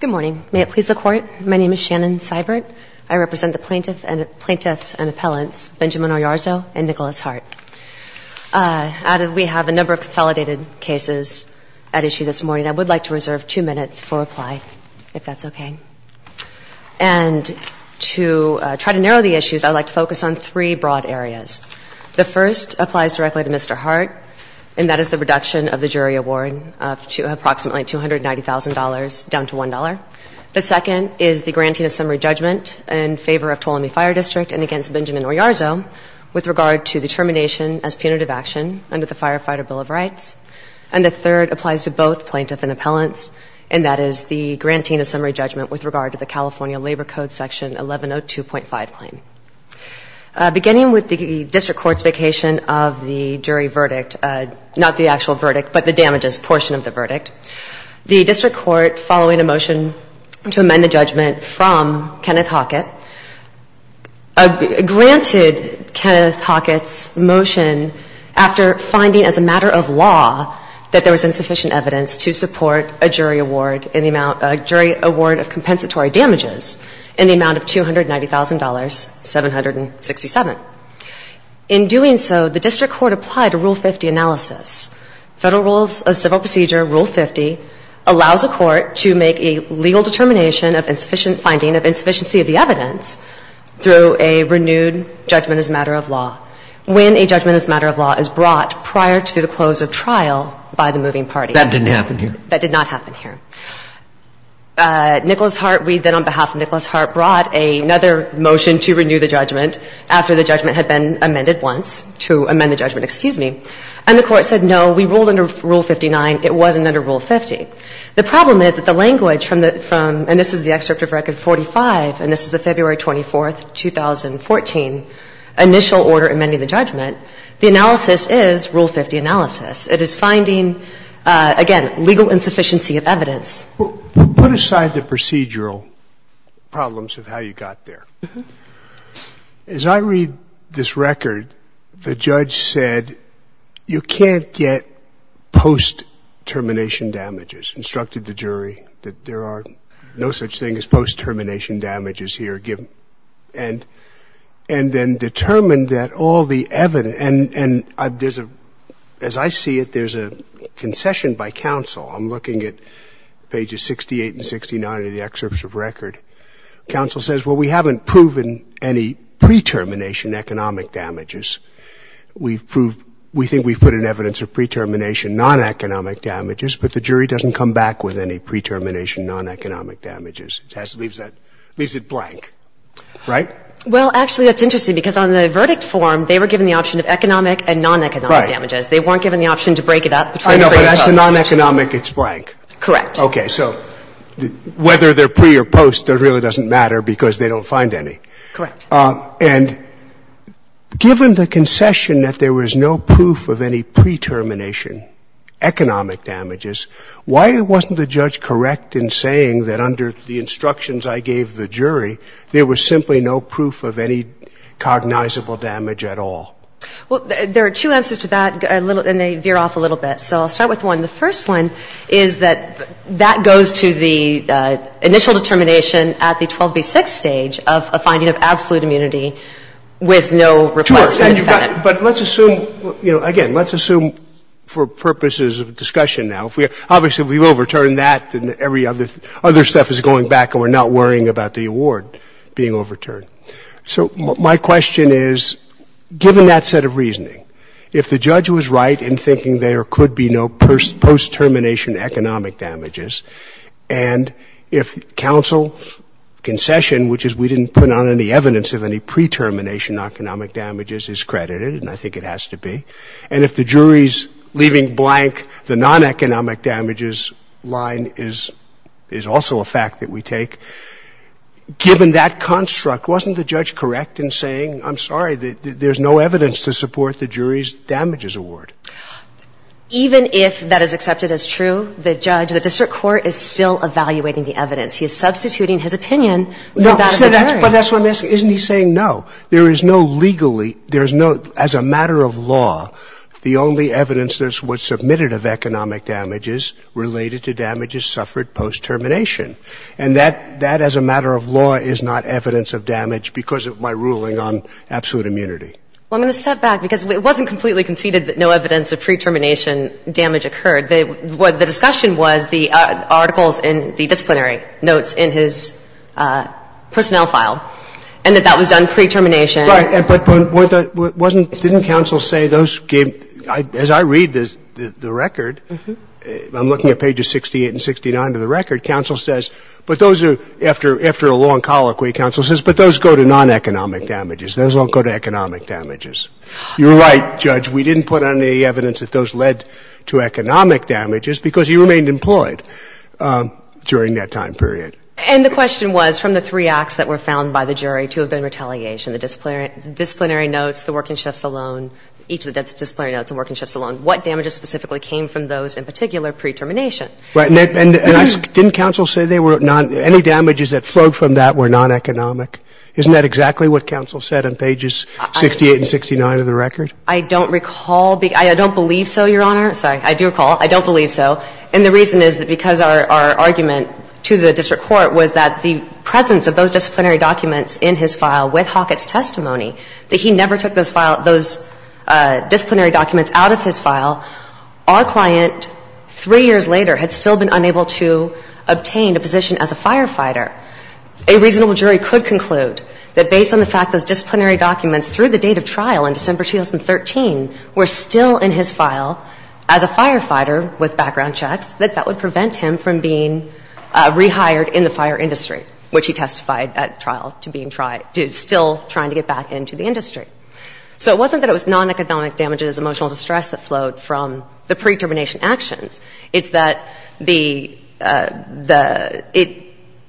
Good morning. May it please the Court, my name is Shannon Seibert. I represent the Plaintiffs and Appellants Benjamin Oyarzo and Nicholas Hart. We have a number of consolidated cases at issue this morning. I would like to reserve two minutes for reply, if that's okay. And to try to narrow the issues, I would like to focus on three broad areas. The first applies directly to Mr. Hart, and that is the reduction of the jury award to approximately $290,000 down to $1. The second is the granting of summary judgment in favor of Tuolumne Fire District and against Benjamin Oyarzo with regard to the termination as punitive action under the Firefighter Bill of Rights. And the third applies to both Plaintiffs and Appellants, and that is the granting of summary judgment with regard to the California Labor Code Section 1102.5 claim. Beginning with the district court's vacation of the jury verdict, not the actual verdict, but the damages portion of the verdict, the district court, following a motion to amend the judgment from Kenneth Hockett, granted Kenneth Hockett's motion after finding, as a matter of law, that there was insufficient evidence to support a jury award in the amount — a jury award of compensatory damages in the amount of $290,000, 767. In doing so, the district court applied a Rule 50 analysis. Federal Rules of Civil Procedure Rule 50 allows a court to make a legal determination of insufficient finding of insufficiency of the evidence through a renewed judgment as a matter of law when a judgment as a matter of law is brought prior to the close of trial by the moving party. That didn't happen here? That did not happen here. Nicholas Hart, we then, on behalf of Nicholas Hart, brought another motion to renew the judgment after the judgment had been amended once, to amend the judgment, excuse me. And the Court said, no, we ruled under Rule 59. It wasn't under Rule 50. The problem is that the language from the — from — and this is the excerpt of Record 45, and this is the February 24, 2014, initial order amending the judgment. The analysis is Rule 50 analysis. It is finding, again, legal insufficiency of evidence. Put aside the procedural problems of how you got there. As I read this record, the judge said you can't get post-termination damages, instructed the jury that there are no such thing as post-termination damages here given — and then determined that all the evidence — and there's a — as I see it, there's a concession by counsel. I'm looking at pages 68 and 69 of the excerpt of Record. Counsel says, well, we haven't proven any pre-termination economic damages. We've proved — we think we've put in evidence of pre-termination non-economic damages, but the jury doesn't come back with any pre-termination non-economic damages. It leaves that — leaves it blank, right? Well, actually, that's interesting because on the verdict form, they were given the option of economic and non-economic damages. They weren't given the option to break it up. I know, but as to non-economic, it's blank. Correct. Okay. So whether they're pre or post, it really doesn't matter because they don't find any. Correct. And given the concession that there was no proof of any pre-termination economic damages, why wasn't the judge correct in saying that under the instructions I gave the jury, there was simply no proof of any cognizable damage at all? Well, there are two answers to that, and they veer off a little bit. So I'll start with one. The first one is that that goes to the initial determination at the 12b-6 stage of a finding of absolute immunity with no request from the defendant. Sure. But let's assume — you know, again, let's assume for purposes of discussion now. If we — obviously, if we overturn that, then every other — other stuff is going back and we're not worrying about the award being overturned. So my question is, given that set of reasoning, if the judge was right in thinking there could be no post-termination economic damages, and if counsel's concession, which is we didn't put on any evidence of any pre-termination economic damages, is credited, and I think it has to be, and if the jury is leaving blank the non-economic damages line is also a fact that we take, given that construct, wasn't the judge correct in saying, I'm sorry, there's no evidence to support the jury's damages award? Even if that is accepted as true, the judge, the district court, is still evaluating the evidence. He is substituting his opinion for that of the jury. But that's what I'm asking. Isn't he saying no? There is no legally — there is no — as a matter of law, the only evidence that was submitted of economic damage is related to damages suffered post-termination. And that, as a matter of law, is not evidence of damage because of my ruling on absolute immunity. Well, I'm going to step back, because it wasn't completely conceded that no evidence of pre-termination damage occurred. The discussion was the articles in the disciplinary notes in his personnel file, and that that was done pre-termination. Right. But wasn't — didn't counsel say those gave — as I read the record, I'm looking at pages 68 and 69 of the record, counsel says, but those are — after a long colloquy, counsel says, but those go to non-economic damages. Those don't go to economic damages. You're right, Judge. We didn't put on any evidence that those led to economic damages, because he remained employed during that time period. And the question was, from the three acts that were found by the jury to have been didn't counsel say they were non — any damages that flowed from that were non-economic? Isn't that exactly what counsel said on pages 68 and 69 of the record? I don't recall. I don't believe so, Your Honor. Sorry. I do recall. I don't believe so. And the reason is that because our argument to the district court was that the presence of those disciplinary documents in his file with Hockett's testimony, that he never took those disciplinary documents out of his file, our client, three years later, had still been unable to obtain a position as a firefighter. A reasonable jury could conclude that based on the fact those disciplinary documents through the date of trial in December 2013 were still in his file as a firefighter with background checks, that that would prevent him from being rehired in the fire industry, which he testified at trial to being — still trying to get back into the fire industry. So it wasn't that it was non-economic damages, emotional distress that flowed from the pre-determination actions. It's that the — the — it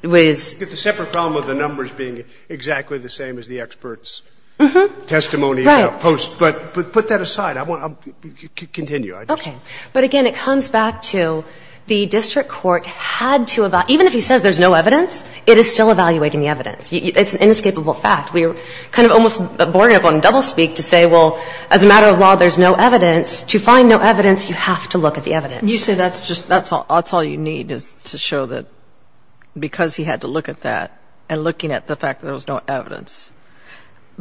was — You get the separate problem of the numbers being exactly the same as the expert's testimony post. Right. But put that aside. Continue. Okay. But, again, it comes back to the district court had to — even if he says there's no evidence, it is still evaluating the evidence. It's an inescapable fact. We were kind of almost boring up on doublespeak to say, well, as a matter of law, there's no evidence. To find no evidence, you have to look at the evidence. You say that's just — that's all you need is to show that because he had to look at that and looking at the fact that there was no evidence.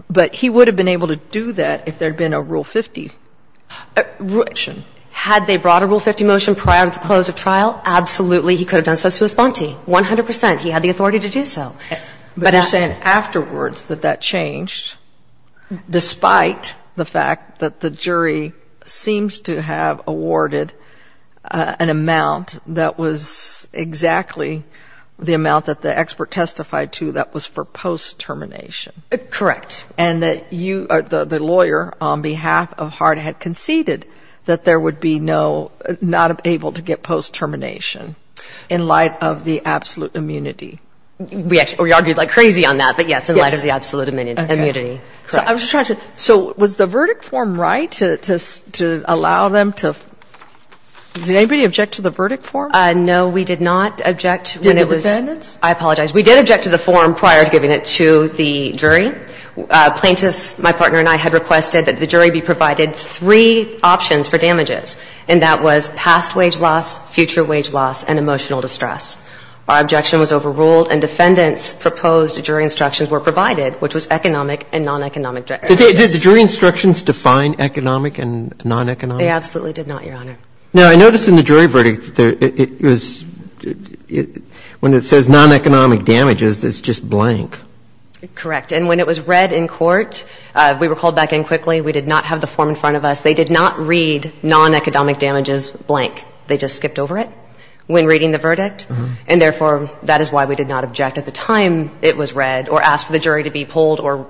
But he would have been able to do that if there had been a Rule 50 motion. Had they brought a Rule 50 motion prior to the close of trial, absolutely he could have done so to his bounty, 100 percent. He had the authority to do so. But you're saying afterwards that that changed despite the fact that the jury seems to have awarded an amount that was exactly the amount that the expert testified to that was for post-termination. Correct. And that you — the lawyer on behalf of Hart had conceded that there would be no — not able to get post-termination in light of the absolute immunity. We argued like crazy on that, but yes, in light of the absolute immunity. Okay. Correct. So I was just trying to — so was the verdict form right to allow them to — did anybody object to the verdict form? No, we did not object when it was — Did the defendants? I apologize. We did object to the form prior to giving it to the jury. Plaintiffs, my partner and I, had requested that the jury be provided three options for damages, and that was past wage loss, future wage loss, and emotional distress. Our objection was overruled, and defendants' proposed jury instructions were provided, which was economic and non-economic damages. Did the jury instructions define economic and non-economic? They absolutely did not, Your Honor. Now, I noticed in the jury verdict that it was — when it says non-economic damages, it's just blank. Correct. And when it was read in court, we were called back in quickly. We did not have the form in front of us. They did not read non-economic damages blank. They just skipped over it when reading the verdict. And therefore, that is why we did not object at the time it was read or ask for the jury to be pulled or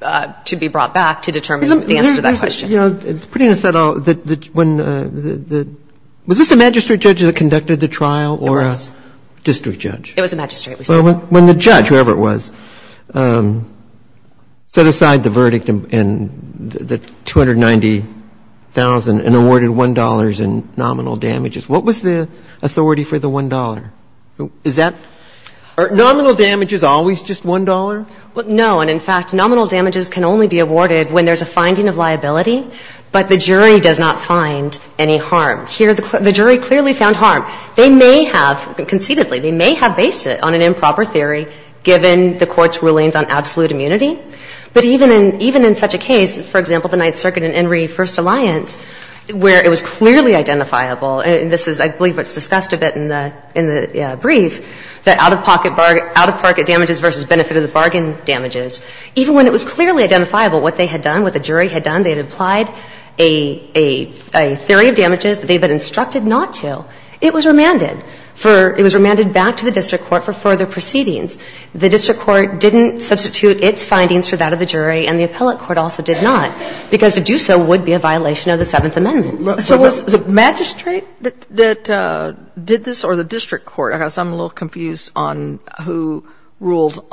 to be brought back to determine the answer to that question. You know, pretty much said all — when the — was this a magistrate judge that conducted the trial or a district judge? It was a magistrate. When the judge, whoever it was, set aside the verdict and the $290,000 and awarded the $1 in nominal damages, what was the authority for the $1? Is that — are nominal damages always just $1? No. And, in fact, nominal damages can only be awarded when there's a finding of liability, but the jury does not find any harm. Here, the jury clearly found harm. They may have — conceitedly, they may have based it on an improper theory, given the Court's rulings on absolute immunity. But even in — even in such a case, for example, the Ninth Circuit and Enry First Alliance, where it was clearly identifiable, and this is — I believe it's discussed a bit in the — in the brief, the out-of-pocket — out-of-pocket damages versus benefit-of-the-bargain damages, even when it was clearly identifiable what they had done, what the jury had done, they had implied a theory of damages that they had been instructed not to, it was remanded for — it was remanded back to the district court for further proceedings. The district court didn't substitute its findings for that of the jury, and the appellate court also did not, because to do so would be a violation of the Seventh Amendment. Kagan. So was it the magistrate that did this, or the district court? I guess I'm a little confused on who ruled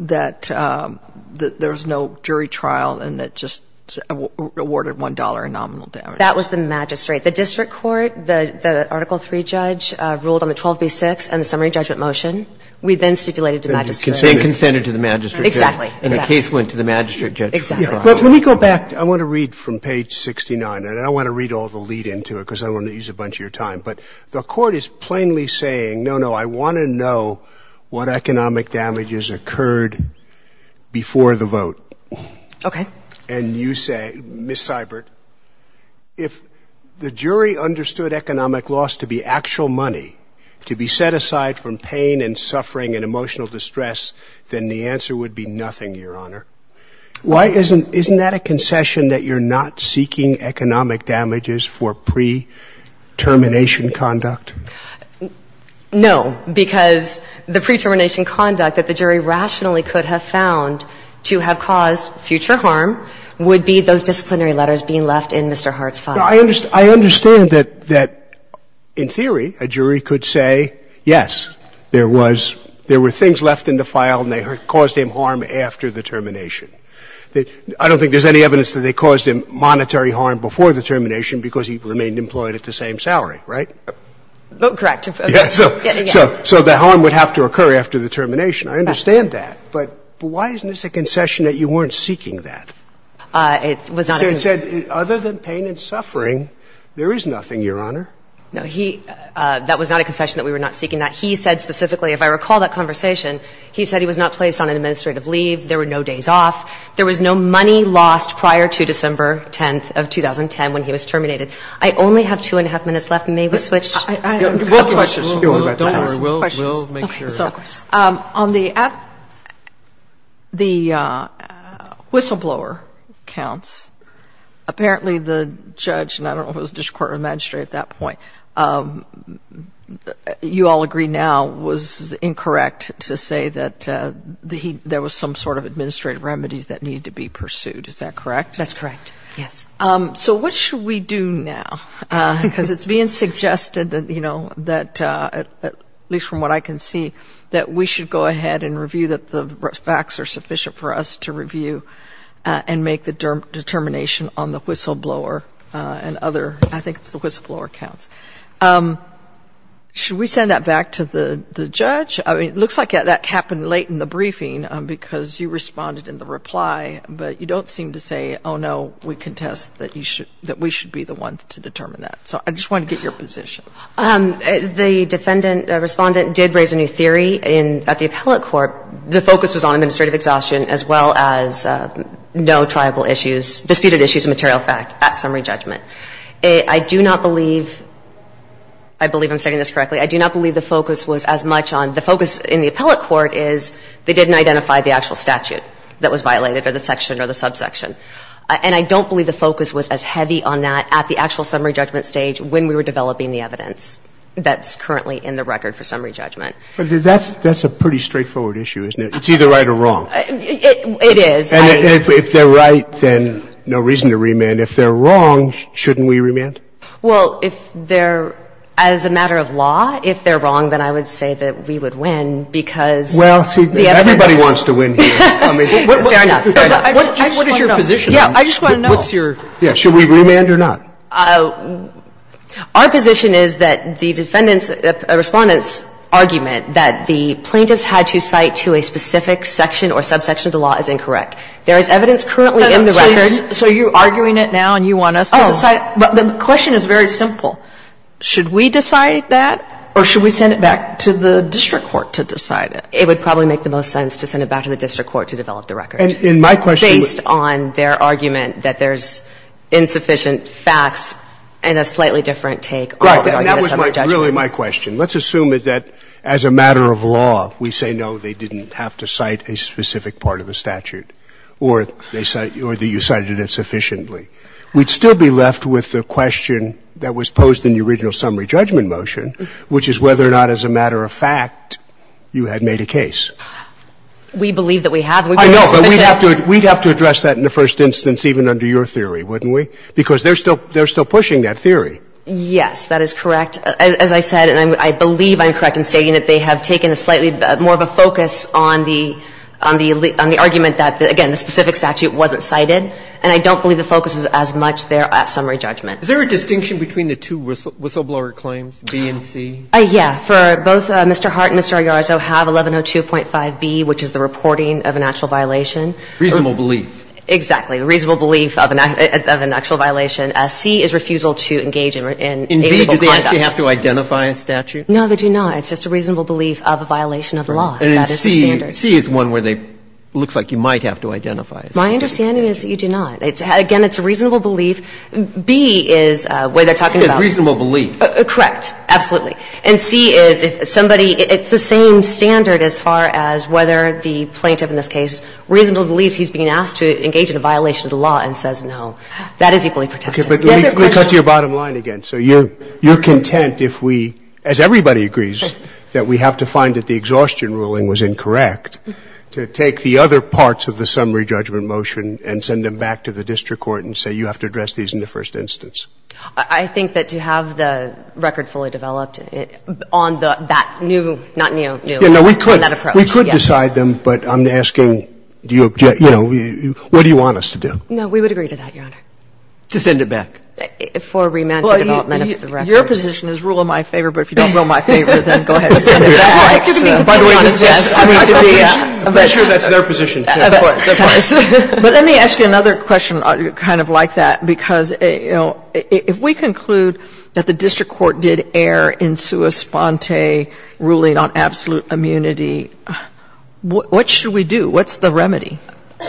that there was no jury trial and that just awarded $1 in nominal damages. That was the magistrate. The district court, the Article III judge, ruled on the 12b-6 and the summary judgment motion. We then stipulated to the magistrate. They consented to the magistrate. Exactly. And the case went to the magistrate judge. Exactly. Let me go back. I want to read from page 69, and I don't want to read all the lead into it because I don't want to use a bunch of your time. But the Court is plainly saying, no, no, I want to know what economic damages occurred before the vote. Okay. And you say, Ms. Seibert, if the jury understood economic loss to be actual money to be set aside from pain and suffering and emotional distress, then the answer would be nothing, Your Honor. Why isn't that a concession that you're not seeking economic damages for pre-termination conduct? No, because the pre-termination conduct that the jury rationally could have found to have caused future harm would be those disciplinary letters being left in Mr. Hart's file. I understand that, in theory, a jury could say, yes, there was, there were things left in the file and they caused him harm after the termination. I don't think there's any evidence that they caused him monetary harm before the termination because he remained employed at the same salary, right? Correct. Yes. So the harm would have to occur after the termination. I understand that. But why isn't this a concession that you weren't seeking that? It was not a concession. It said, other than pain and suffering, there is nothing, Your Honor. No, he – that was not a concession that we were not seeking that. He said specifically, if I recall that conversation, he said he was not placed on an administrative leave. There were no days off. There was no money lost prior to December 10th of 2010 when he was terminated. I only have two and a half minutes left. May we switch? We'll make sure. On the whistleblower counts, apparently the judge, and I don't know if it was district court or magistrate at that point, you all agree now was incorrect to say that there was some sort of administrative remedies that needed to be pursued. Is that correct? That's correct. Yes. So what should we do now? Because it's being suggested that, you know, that at least from what I can see, that we should go ahead and review that the facts are sufficient for us to review and make the determination on the whistleblower and other – I think it's the whistleblower counts. Should we send that back to the judge? I mean, it looks like that happened late in the briefing because you responded in the reply, but you don't seem to say, oh, no, we contest that you should – that we should be the ones to determine that. So I just wanted to get your position. The defendant – respondent did raise a new theory at the appellate court. The focus was on administrative exhaustion as well as no triable issues, disputed issues of material fact at summary judgment. I do not believe – I believe I'm saying this correctly. I do not believe the focus was as much on – the focus in the appellate court is they didn't identify the actual statute that was violated or the section or the subsection. And I don't believe the focus was as heavy on that at the actual summary judgment stage when we were developing the evidence that's currently in the record for summary judgment. But that's – that's a pretty straightforward issue, isn't it? It's either right or wrong. It is. And if they're right, then no reason to remand. If they're wrong, shouldn't we remand? Well, if they're – as a matter of law, if they're wrong, then I would say that we would win because the evidence – Well, see, everybody wants to win here. Fair enough. Fair enough. What is your position? Yeah, I just want to know. What's your – yeah, should we remand or not? Our position is that the defendant's – Respondent's argument that the plaintiff's had to cite to a specific section or subsection of the law is incorrect. There is evidence currently in the record. So you're arguing it now and you want us to decide? Oh. The question is very simple. Should we decide that or should we send it back to the district court to decide it? It would probably make the most sense to send it back to the district court to develop the record. And in my question – Right, but that was really my question. Let's assume that as a matter of law, we say, no, they didn't have to cite a specific part of the statute or that you cited it sufficiently. We'd still be left with the question that was posed in the original summary judgment motion, which is whether or not as a matter of fact you had made a case. We believe it's sufficient. I know, but we'd have to address that in the first instance even under your theory, wouldn't we? Because they're still pushing that theory. Yes, that is correct. As I said, and I believe I'm correct in stating that they have taken a slightly more of a focus on the argument that, again, the specific statute wasn't cited. And I don't believe the focus was as much there at summary judgment. Is there a distinction between the two whistleblower claims, B and C? Yeah. For both Mr. Hart and Mr. Ayarzo have 1102.5B, which is the reporting of an actual violation. Reasonable belief. Exactly. Reasonable belief of an actual violation. C is refusal to engage in illegal conduct. In B, do they have to identify a statute? No, they do not. It's just a reasonable belief of a violation of law. That is the standard. And C is one where they – it looks like you might have to identify a statute. My understanding is that you do not. Again, it's a reasonable belief. B is what they're talking about. It is reasonable belief. Correct. Absolutely. And C is if somebody – it's the same standard as far as whether the plaintiff in this case reasonably believes he's being asked to engage in a violation of the law and says no. That is equally protected. Okay. But let me cut to your bottom line again. So you're – you're content if we, as everybody agrees, that we have to find that the exhaustion ruling was incorrect to take the other parts of the summary judgment motion and send them back to the district court and say you have to address these in the first instance? I think that to have the record fully developed on the – that new – not new, new, on that approach, yes. We could decide them, but I'm asking, you know, what do you want us to do? No, we would agree to that, Your Honor. To send it back? For remand for development of the record. Well, your position is rule of my favor, but if you don't rule my favor, then go ahead and send it back. By the way, this is supposed to be a measure that's their position, too. But let me ask you another question kind of like that. Because, you know, if we conclude that the district court did err in sua sponte ruling on absolute immunity, what should we do? What's the remedy?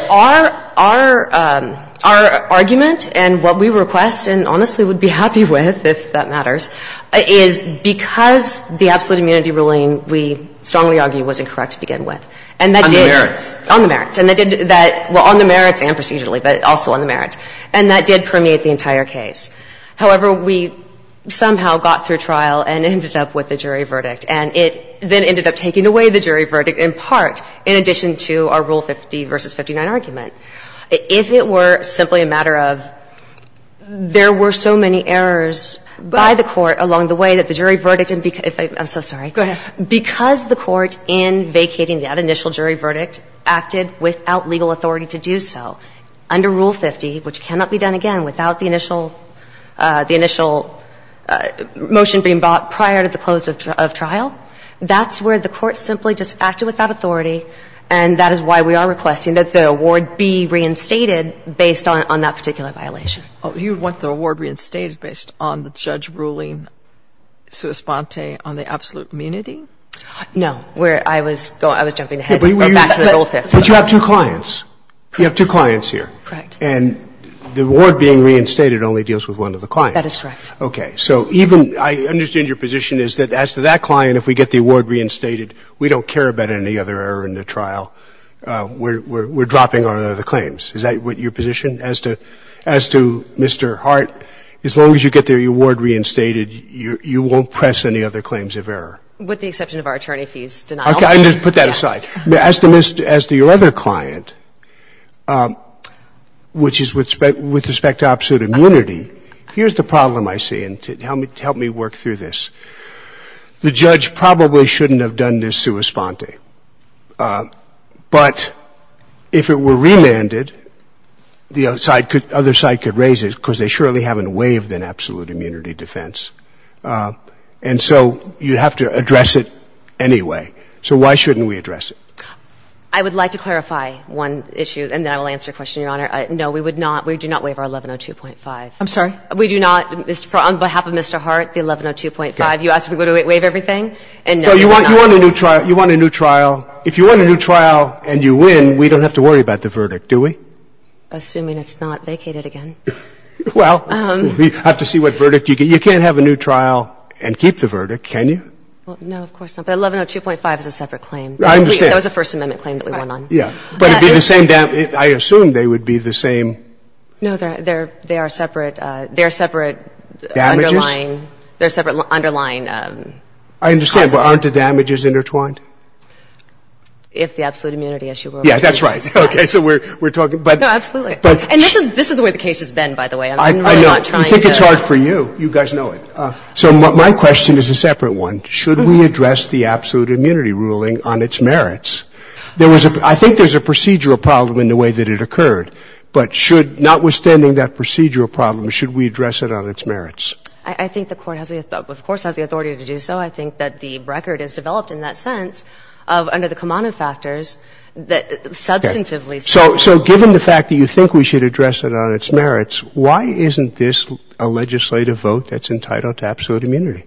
Our – our – our argument and what we request and honestly would be happy with, if that matters, is because the absolute immunity ruling, we strongly argue, was incorrect to begin with. On the merits. On the merits. And that did that – well, on the merits and procedurally, but also on the merits. And that did permeate the entire case. However, we somehow got through trial and ended up with a jury verdict. And it then ended up taking away the jury verdict in part, in addition to our Rule 50 v. 59 argument. If it were simply a matter of there were so many errors by the court along the way that the jury verdict – I'm so sorry. Go ahead. Because the court, in vacating that initial jury verdict, acted without legal authority to do so. Under Rule 50, which cannot be done again without the initial – the initial motion being brought prior to the close of trial, that's where the court simply just acted without authority, and that is why we are requesting that the award be reinstated based on that particular violation. You want the award reinstated based on the judge ruling sua sponte on the absolute immunity? No. Where I was going – I was jumping ahead, but back to the Rule 50. But you have two clients. Correct. You have two clients here. Correct. And the award being reinstated only deals with one of the clients. That is correct. Okay. So even – I understand your position is that as to that client, if we get the award reinstated, we don't care about any other error in the trial. We're dropping our other claims. Is that your position as to – as to Mr. Hart? As long as you get the award reinstated, you won't press any other claims of error. With the exception of our attorney fees denial. Okay. I'm going to put that aside. As to your other client, which is with respect to absolute immunity, here's the problem I see, and to help me work through this. The judge probably shouldn't have done this sua sponte. But if it were remanded, the other side could raise it because they surely haven't waived an absolute immunity defense. And so you have to address it anyway. So why shouldn't we address it? I would like to clarify one issue, and then I will answer your question, Your Honor. No, we would not. We do not waive our 1102.5. I'm sorry? We do not. On behalf of Mr. Hart, the 1102.5, you asked if we would waive everything. And no, we do not. No, you want a new trial. You want a new trial. If you want a new trial and you win, we don't have to worry about the verdict, do we? Assuming it's not vacated again. Well, we have to see what verdict you get. You can't have a new trial and keep the verdict, can you? No, of course not. But 1102.5 is a separate claim. I understand. That was a First Amendment claim that we won on. Right. Yeah. But it would be the same damage. I assume they would be the same. No, they are separate. They are separate underlying. Damages? They are separate underlying causes. I understand. But aren't the damages intertwined? If the absolute immunity issue were. Yeah, that's right. Okay. So we're talking. No, absolutely. And this is the way the case has been, by the way. I'm really not trying to. I know. I think it's hard for you. You guys know it. So my question is a separate one. Should we address the absolute immunity ruling on its merits? There was a – I think there's a procedural problem in the way that it occurred. But should – notwithstanding that procedural problem, should we address it on its merits? I think the Court has the – of course has the authority to do so. I think that the record is developed in that sense of under the Kamano factors that substantively. Okay. So given the fact that you think we should address it on its merits, why isn't this a legislative vote that's entitled to absolute immunity?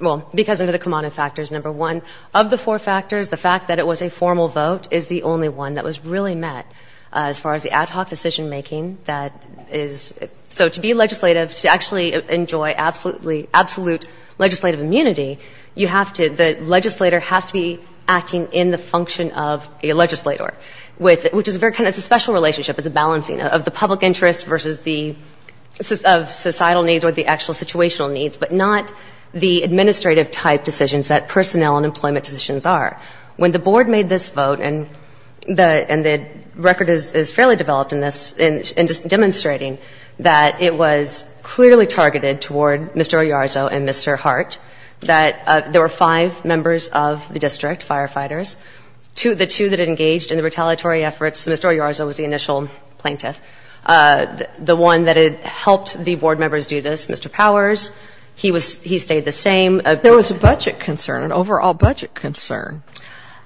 Well, because of the Kamano factors, number one. Of the four factors, the fact that it was a formal vote is the only one that was really met as far as the ad hoc decision-making that is – so to be legislative, to actually enjoy absolute legislative immunity, you have to – the legislator has to be acting in the function of a legislator, which is a very kind of – it's a special relationship. It's a balancing of the public interest versus the – of societal needs or the actual situational needs, but not the administrative type decisions that personnel and employment decisions are. When the Board made this vote, and the – and the record is fairly developed in this, in demonstrating that it was clearly targeted toward Mr. Oyarzo and Mr. Hart, that there were five members of the district, firefighters. Two – the two that engaged in the retaliatory efforts, Mr. Oyarzo was the initial plaintiff. The one that had helped the Board members do this, Mr. Powers, he was – he stayed the same. There was a budget concern, an overall budget concern.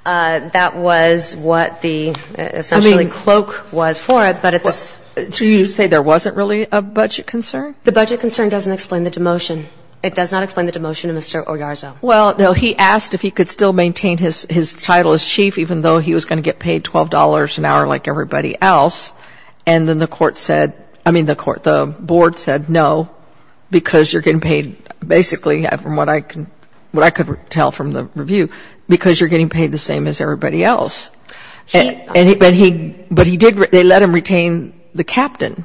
That was what the essentially cloak was for it, but it's – Do you say there wasn't really a budget concern? The budget concern doesn't explain the demotion. It does not explain the demotion to Mr. Oyarzo. Well, no. He asked if he could still maintain his title as chief, even though he was going to get paid $12 an hour like everybody else. And then the court said – I mean, the court – the Board said no, because you're getting paid basically, from what I can – what I could tell from the review, because you're getting paid the same as everybody else. He – But he – but he did – they let him retain the captain.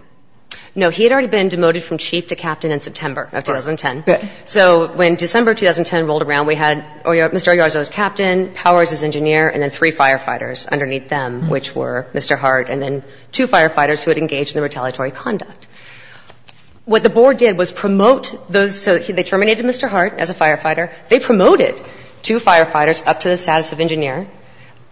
No, he had already been demoted from chief to captain in September of 2010. So when December 2010 rolled around, we had Mr. Oyarzo as captain, Powers as chief, and then Mr. Hart as chief. And the Board had two other people underneath them, which were Mr. Hart and then two firefighters who had engaged in retaliatory conduct. What the Board did was promote those – so they terminated Mr. Hart as a firefighter. They promoted two firefighters up to the status of engineer,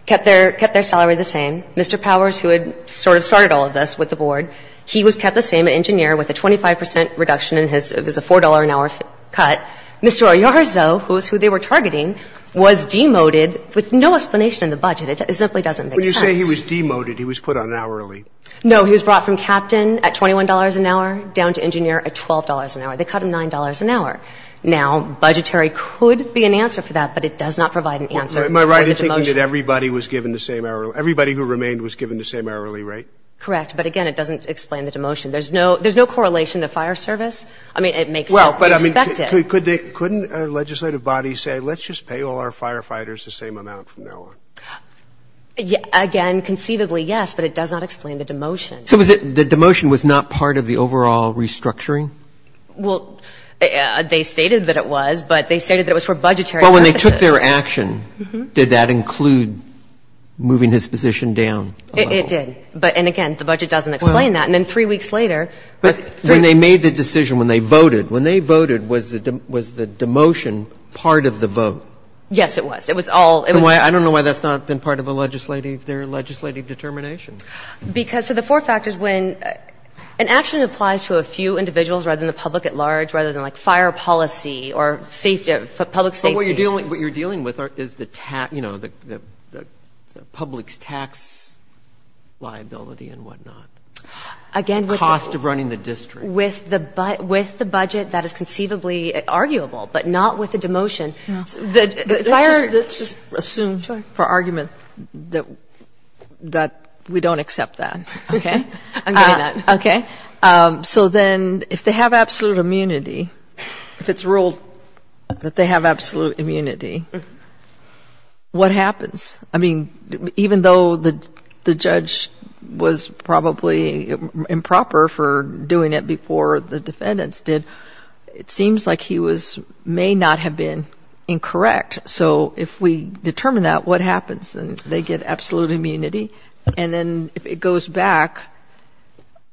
kept their – kept their salary the same. Mr. Powers, who had sort of started all of this with the Board, he was kept the same at engineer, with a 25 percent reduction in his – it was a $4 an hour cut. But Mr. Oyarzo, who is who they were targeting, was demoted with no explanation in the budget. It simply doesn't make sense. When you say he was demoted, he was put on hourly. No, he was brought from captain at $21 an hour down to engineer at $12 an hour. They cut him $9 an hour. Now, budgetary could be an answer for that, but it does not provide an answer for the demotion. Am I right in thinking that everybody was given the same hourly – everybody who remained was given the same hourly rate? Correct. But again, it doesn't explain the demotion. There's no – there's no correlation to fire service. I mean, it makes sense. But I mean, couldn't a legislative body say, let's just pay all our firefighters the same amount from now on? Again, conceivably, yes, but it does not explain the demotion. So was it – the demotion was not part of the overall restructuring? Well, they stated that it was, but they stated that it was for budgetary purposes. But when they took their action, did that include moving his position down? It did. And again, the budget doesn't explain that. And then three weeks later – But when they made the decision, when they voted, when they voted, was the demotion part of the vote? Yes, it was. It was all – it was – I don't know why that's not been part of a legislative – their legislative determination. Because – so the four factors when – an action applies to a few individuals rather than the public at large, rather than, like, fire policy or safety – public safety. But what you're dealing – what you're dealing with is the – you know, the public's tax liability and whatnot. Again, with the – The cost of running the district. With the budget that is conceivably arguable, but not with the demotion. Let's just assume for argument that we don't accept that. Okay. I'm getting that. Okay. So then if they have absolute immunity, if it's ruled that they have absolute immunity, what happens? I mean, even though the judge was probably improper for doing it before the defendants did, it seems like he was – may not have been incorrect. So if we determine that, what happens? They get absolute immunity. And then if it goes back,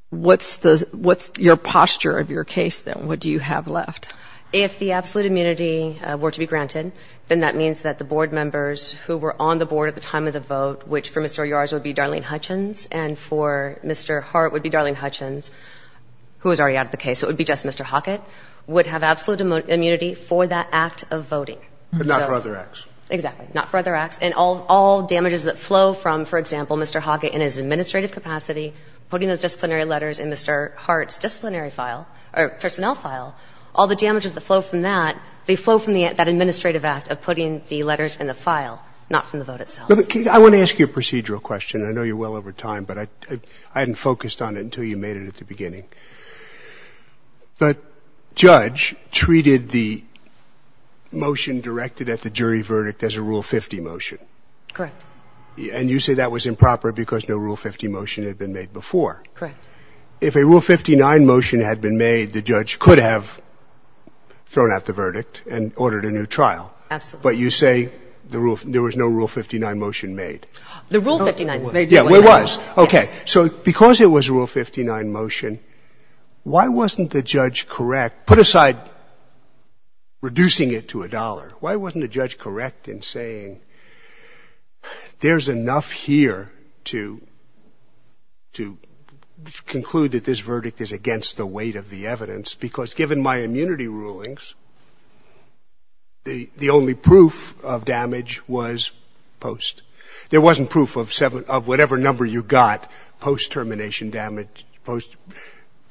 what's the – what's your posture of your case then? What do you have left? If the absolute immunity were to be granted, then that means that the board members who were on the board at the time of the vote, which for Mr. Yars would be Darlene Hutchins and for Mr. Hart would be Darlene Hutchins, who was already out of the case, so it would be just Mr. Hockett, would have absolute immunity for that act of voting. But not for other acts. Exactly. Not for other acts. And all damages that flow from, for example, Mr. Hockett in his administrative capacity, putting those disciplinary letters in Mr. Hart's disciplinary file, or personnel file, all the damages that flow from that, they flow from that administrative act of putting the letters in the file, not from the vote itself. But, Kate, I want to ask you a procedural question. I know you're well over time, but I hadn't focused on it until you made it at the beginning. The judge treated the motion directed at the jury verdict as a Rule 50 motion. Correct. And you say that was improper because no Rule 50 motion had been made before. Correct. And ordered a new trial. Absolutely. But you say there was no Rule 59 motion made. The Rule 59 motion. Yeah, there was. Okay. So because it was a Rule 59 motion, why wasn't the judge correct? Put aside reducing it to a dollar, why wasn't the judge correct in saying there's enough here to conclude that this verdict is against the weight of the evidence because given my immunity rulings, the only proof of damage was post. There wasn't proof of whatever number you got post-termination damage,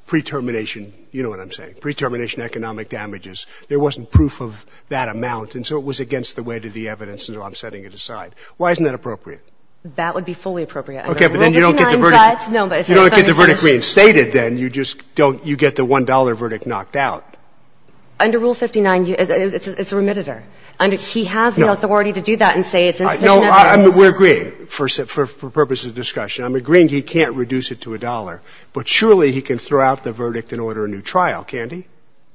pre-termination, you know what I'm saying, pre-termination economic damages. There wasn't proof of that amount, and so it was against the weight of the evidence, and so I'm setting it aside. Why isn't that appropriate? That would be fully appropriate. Okay, but then you don't get the verdict. Rule 59 judge? No, but if I'm interested. But if I'm interested, then you get the $1 verdict knocked out. Under Rule 59, it's a remitter. He has the authority to do that and say it's insufficient evidence. No, we're agreeing for purposes of discussion. I'm agreeing he can't reduce it to a dollar, but surely he can throw out the verdict and order a new trial, can't he?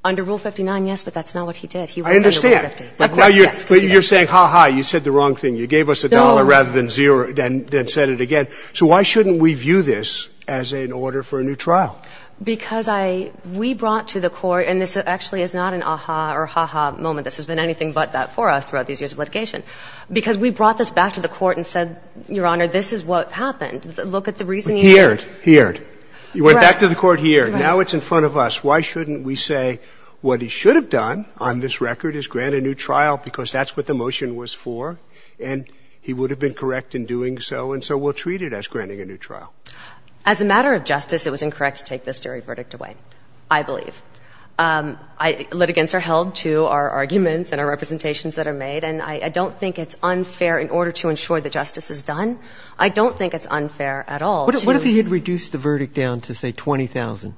Under Rule 59, yes, but that's not what he did. I understand. But you're saying, ha, ha, you said the wrong thing. You gave us a dollar rather than zero, then said it again. So why shouldn't we view this as an order for a new trial? Because I ‑‑ we brought to the court, and this actually is not an ah-ha or ha-ha moment. This has been anything but that for us throughout these years of litigation. Because we brought this back to the court and said, Your Honor, this is what happened. Look at the reasoning here. Here, here. You went back to the court here. Now it's in front of us. Why shouldn't we say what he should have done on this record is grant a new trial because that's what the motion was for, and he would have been correct in doing so, and so we'll treat it as granting a new trial. As a matter of justice, it was incorrect to take this jury verdict away, I believe. Litigants are held to our arguments and our representations that are made, and I don't think it's unfair in order to ensure that justice is done. I don't think it's unfair at all to ‑‑ What if he had reduced the verdict down to, say, 20,000?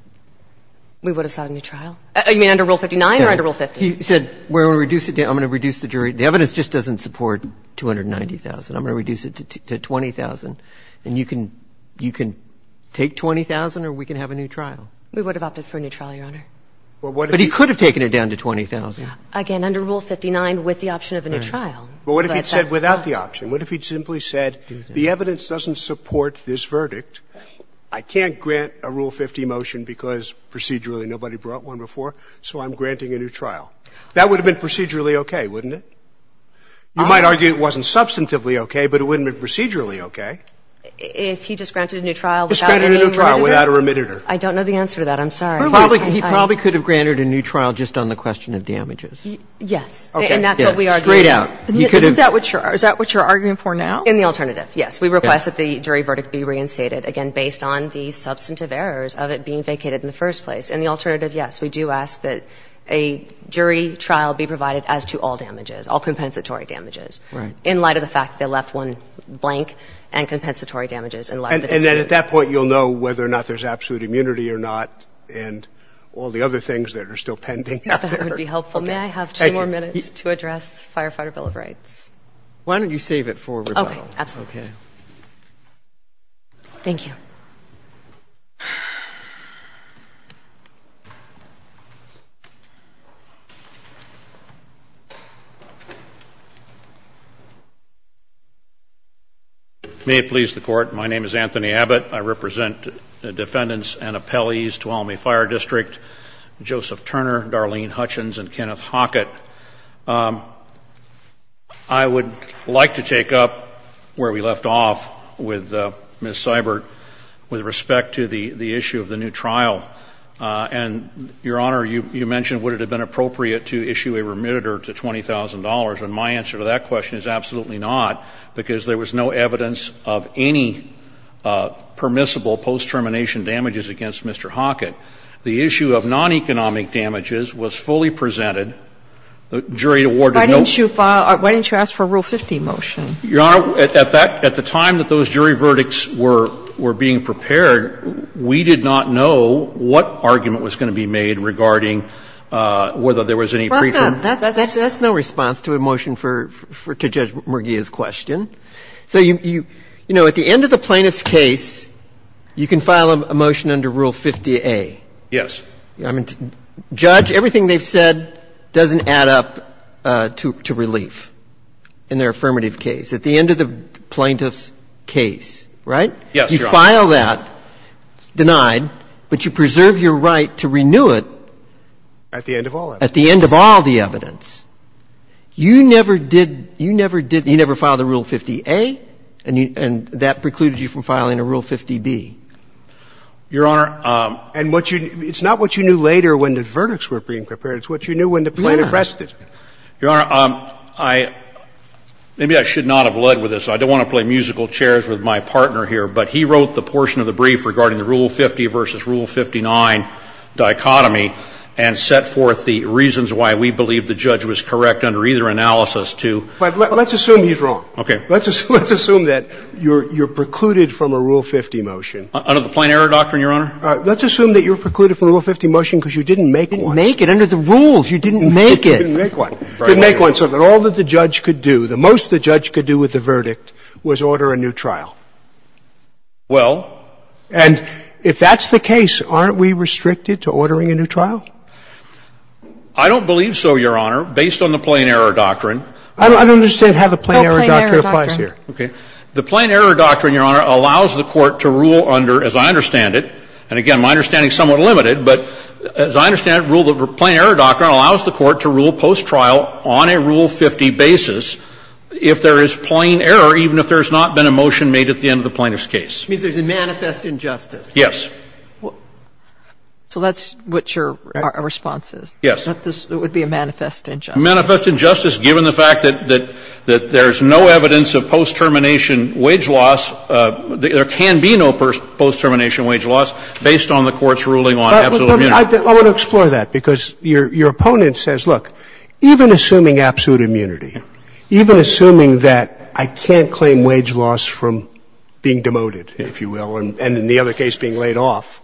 We would have sought a new trial? You mean under Rule 59 or under Rule 50? He said, We're going to reduce it down. I'm going to reduce the jury. The evidence just doesn't support 290,000. I'm going to reduce it to 20,000, and you can take 20,000 or we can have a new trial. We would have opted for a new trial, Your Honor. But he could have taken it down to 20,000. Again, under Rule 59 with the option of a new trial. But what if he had said without the option? What if he had simply said, The evidence doesn't support this verdict. I can't grant a Rule 50 motion because procedurally nobody brought one before, so I'm granting a new trial. That would have been procedurally okay, wouldn't it? You might argue it wasn't substantively okay, but it wouldn't have been procedurally okay. If he just granted a new trial without ‑‑ Just granted a new trial without a remediator. I don't know the answer to that. I'm sorry. He probably could have granted a new trial just on the question of damages. Yes. And that's what we are doing. Straight out. Isn't that what you're ‑‑ is that what you're arguing for now? In the alternative, yes. We request that the jury verdict be reinstated, again, based on the substantive errors of it being vacated in the first place. In the alternative, yes. We do ask that a jury trial be provided as to all damages, all compensatory damages. Right. In light of the fact that they left one blank and compensatory damages. And then at that point you'll know whether or not there's absolute immunity or not and all the other things that are still pending after. That would be helpful. May I have two more minutes to address the Firefighter Bill of Rights? Why don't you save it for rebuttal? Okay. Absolutely. Okay. Thank you. May it please the Court, my name is Anthony Abbott. I represent the defendants and appellees to Alameda Fire District, Joseph Turner, Darlene Hutchins, and Kenneth Hockett. I would like to take up where we left off with Ms. Seibert with respect to the issue of the new trial. And, Your Honor, you mentioned would it have been appropriate to issue a remitter to $20,000. And my answer to that question is absolutely not because there was no evidence of any permissible post-termination damages against Mr. Hockett. The issue of non-economic damages was fully presented. The jury awarded no ---- Why didn't you file or why didn't you ask for a Rule 50 motion? Your Honor, at the time that those jury verdicts were being prepared, we did not know what argument was going to be made regarding whether there was any pretrial ---- That's no response to a motion to Judge Murgia's question. So, you know, at the end of the plaintiff's case, you can file a motion under Rule 50a. Yes. I mean, Judge, everything they've said doesn't add up to relief in their affirmative case. At the end of the plaintiff's case, right? Yes, Your Honor. You file that, denied, but you preserve your right to renew it. At the end of all evidence. At the end of all the evidence. You never did ---- you never did ---- you never filed a Rule 50a, and that precluded you from filing a Rule 50b. Your Honor, I'm ---- And what you ---- it's not what you knew later when the verdicts were being prepared. It's what you knew when the plaintiff rested. Your Honor, I ---- maybe I should not have led with this. I don't want to play musical chairs with my partner here, but he wrote the portion of the brief regarding the Rule 50 v. Rule 59 dichotomy and set forth the reasons why we believe the judge was correct under either analysis to ---- Let's assume he's wrong. Let's assume that you're precluded from a Rule 50 motion. Under the plain error doctrine, Your Honor. Let's assume that you're precluded from a Rule 50 motion because you didn't make one. You didn't make it under the rules. You didn't make it. You didn't make one. You didn't make one, so that all that the judge could do, the most the judge could do with the verdict was order a new trial. Well ---- And if that's the case, aren't we restricted to ordering a new trial? I don't believe so, Your Honor, based on the plain error doctrine. I don't understand how the plain error doctrine applies here. Oh, plain error doctrine. Okay. The plain error doctrine, Your Honor, allows the Court to rule under, as I understand it, and again, my understanding is somewhat limited, but as I understand it, the plain error doctrine allows the Court to rule post-trial on a Rule 50 basis if there is plain error, even if there's not been a motion made at the end of the plaintiff's case. It means there's a manifest injustice. Yes. So that's what your response is? Yes. That this would be a manifest injustice. Manifest injustice given the fact that there's no evidence of post-termination wage loss, there can be no post-termination wage loss based on the Court's ruling on absolute immunity. I want to explore that, because your opponent says, look, even assuming absolute immunity, even assuming that I can't claim wage loss from being demoted, if you will, and in the other case being laid off,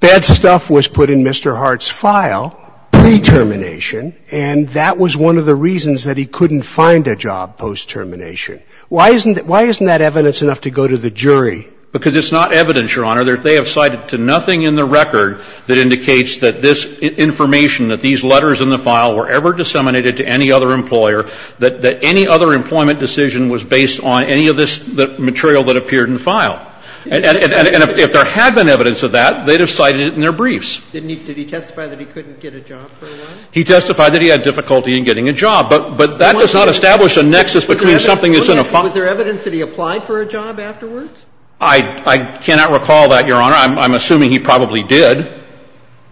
bad stuff was put in Mr. Hart's file pre-termination and that was one of the reasons that he couldn't find a job post-termination. Why isn't that evidence enough to go to the jury? Because it's not evidence, Your Honor. They have cited to nothing in the record that indicates that this information, that these letters in the file were ever disseminated to any other employer, that any other employment decision was based on any of this material that appeared in the file. And if there had been evidence of that, they'd have cited it in their briefs. Did he testify that he couldn't get a job for a while? He testified that he had difficulty in getting a job. But that does not establish a nexus between something that's in a file. Was there evidence that he applied for a job afterwards? I cannot recall that, Your Honor. I'm assuming he probably did.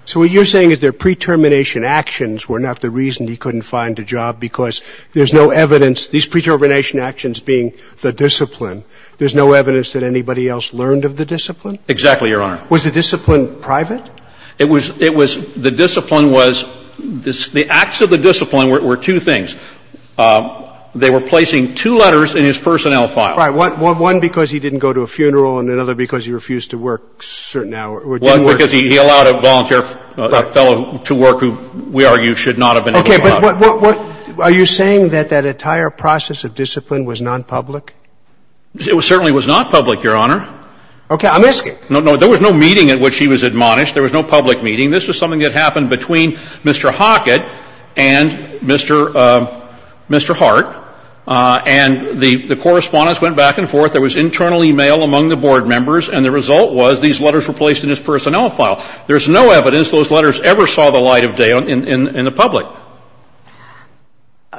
So what you're saying is their pre-termination actions were not the reason he couldn't find a job because there's no evidence, these pre-termination actions being the discipline, there's no evidence that anybody else learned of the discipline? Exactly, Your Honor. Was the discipline private? It was the discipline was the acts of the discipline were two things. They were placing two letters in his personnel file. Right. One because he didn't go to a funeral and another because he refused to work a certain hour. One because he allowed a volunteer fellow to work who we argue should not have been able to work. Okay. But what are you saying that that entire process of discipline was nonpublic? It certainly was not public, Your Honor. Okay. I'm asking. There was no meeting at which he was admonished. There was no public meeting. This was something that happened between Mr. Hockett and Mr. Hart. And the correspondence went back and forth. There was internal e-mail among the board members. And the result was these letters were placed in his personnel file. There's no evidence those letters ever saw the light of day in the public.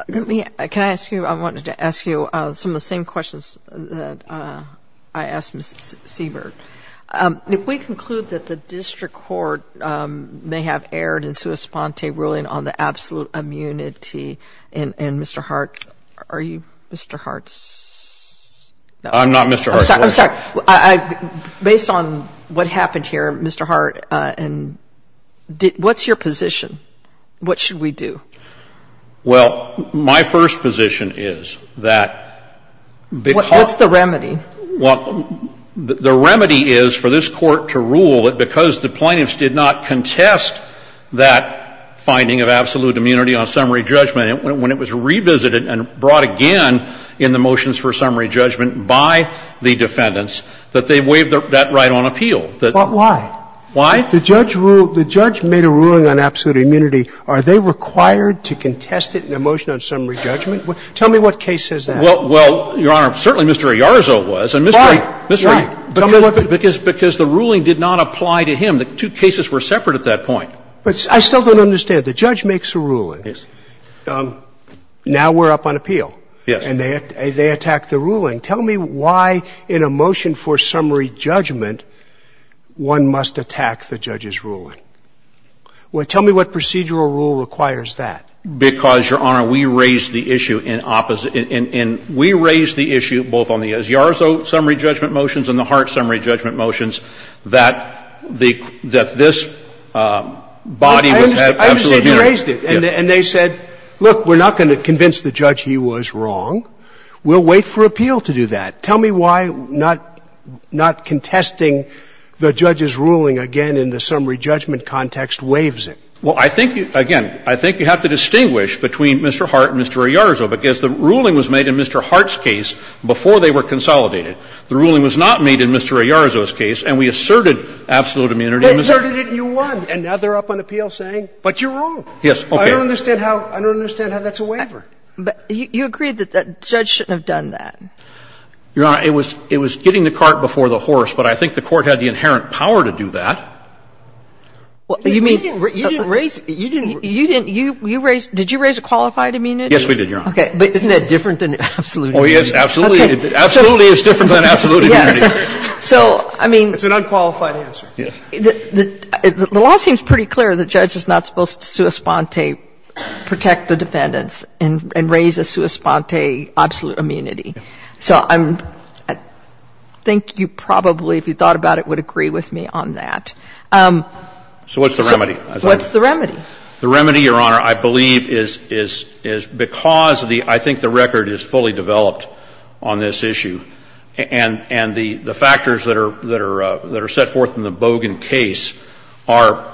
Let me. Can I ask you? I wanted to ask you some of the same questions that I asked Ms. Siebert. If we conclude that the district court may have erred in sua sponte ruling on the absolute immunity and Mr. Hart, are you Mr. Hart's? I'm not Mr. Hart's. I'm sorry. Based on what happened here, Mr. Hart, and what's your position? What should we do? Well, my first position is that because. What's the remedy? Well, the remedy is for this Court to rule that because the plaintiffs did not contest that finding of absolute immunity on summary judgment, when it was revisited and brought again in the motions for summary judgment by the defendants, that they waived that right on appeal. But why? Why? The judge made a ruling on absolute immunity. Are they required to contest it in a motion on summary judgment? Tell me what case says that. Well, Your Honor, certainly Mr. Iarzo was. Right. Because the ruling did not apply to him. The two cases were separate at that point. But I still don't understand. The judge makes a ruling. Yes. Now we're up on appeal. Yes. And they attack the ruling. Tell me why in a motion for summary judgment one must attack the judge's ruling. Tell me what procedural rule requires that. Because, Your Honor, we raised the issue in opposite – and we raised the issue both on the Asiardo summary judgment motions and the Hart summary judgment motions that the – that this body would have absolute immunity. I understand. You raised it. And they said, look, we're not going to convince the judge he was wrong. We'll wait for appeal to do that. Tell me why not contesting the judge's ruling again in the summary judgment context waives it. Well, I think – again, I think you have to distinguish between Mr. Hart and Mr. Iarzo. Because the ruling was made in Mr. Hart's case before they were consolidated. The ruling was not made in Mr. Iarzo's case. And we asserted absolute immunity. They asserted it and you won. And now they're up on appeal saying, but you're wrong. Yes. Okay. I don't understand how – I don't understand how that's a waiver. But you agreed that the judge shouldn't have done that. Your Honor, it was getting the cart before the horse, but I think the court had the inherent power to do that. Well, you mean – You didn't raise – you didn't – You didn't – you raised – did you raise a qualified immunity? Yes, we did, Your Honor. Okay. But isn't that different than absolute immunity? Oh, yes, absolutely. Absolutely is different than absolute immunity. Yes. So, I mean – It's an unqualified answer. Yes. The law seems pretty clear. The judge is not supposed to sua sponte protect the defendants and raise a sua sponte absolute immunity. So I'm – I think you probably, if you thought about it, would agree with me on that. So what's the remedy? What's the remedy? The remedy, Your Honor, I believe is because the – I think the record is fully developed on this issue. And the factors that are set forth in the Bogan case are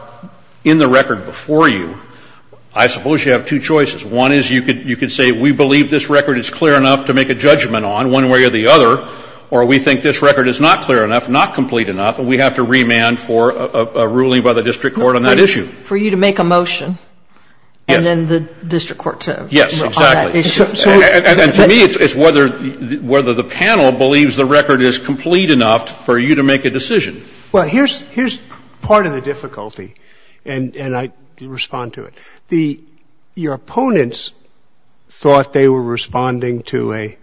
in the record before you. I suppose you have two choices. One is you could say we believe this record is clear enough to make a judgment on one way or the other, or we think this record is not clear enough, not complete enough, and we have to remand for a ruling by the district court on that issue. For you to make a motion. Yes. And then the district court to – Yes, exactly. On that issue. And to me it's whether the panel believes the record is complete enough for you to make a decision. Well, here's part of the difficulty, and I respond to it. The – your opponents thought they were responding to a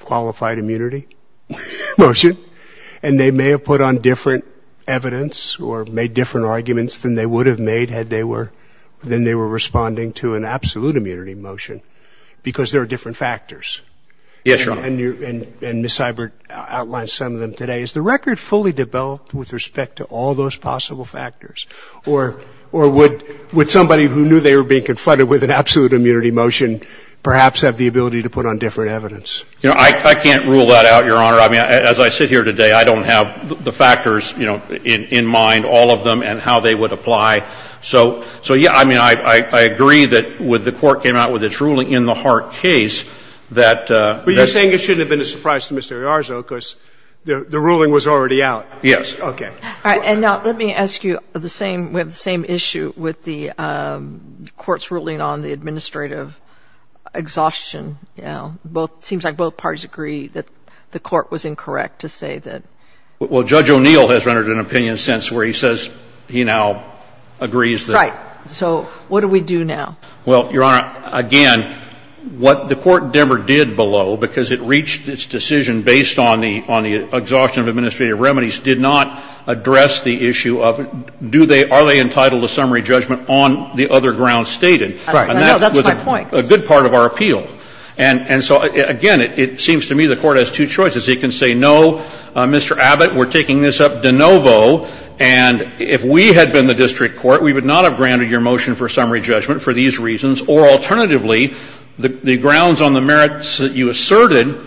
qualified immunity motion, and they may have put on different evidence or made different arguments than they would have made had they were – than they were responding to an absolute immunity motion, because there are different factors. Yes, Your Honor. And Ms. Seibert outlined some of them today. Is the record fully developed with respect to all those possible factors, or would somebody who knew they were being confronted with an absolute immunity motion perhaps have the ability to put on different evidence? You know, I can't rule that out, Your Honor. I mean, as I sit here today, I don't have the factors, you know, in mind, all of them and how they would apply. So, yeah, I mean, I agree that with the court came out with its ruling in the Hart case that the – But you're saying it shouldn't have been a surprise to Mr. Iarzo because the ruling was already out. Yes. Okay. All right. And now let me ask you the same – we have the same issue with the Court's ruling on the administrative exhaustion. You know, both – it seems like both parties agree that the Court was incorrect to say that. Well, Judge O'Neill has rendered an opinion since where he says he now agrees that – Right. So what do we do now? Well, Your Honor, again, what the Court never did below, because it reached its decision based on the exhaustion of administrative remedies, did not address the issue of do they – are they entitled to summary judgment on the other grounds stated. Right. No, that's my point. And that was a good part of our appeal. And so, again, it seems to me the Court has two choices. It can say no, Mr. Abbott, we're taking this up de novo. And if we had been the district court, we would not have granted your motion for summary judgment for these reasons. Or alternatively, the grounds on the merits that you asserted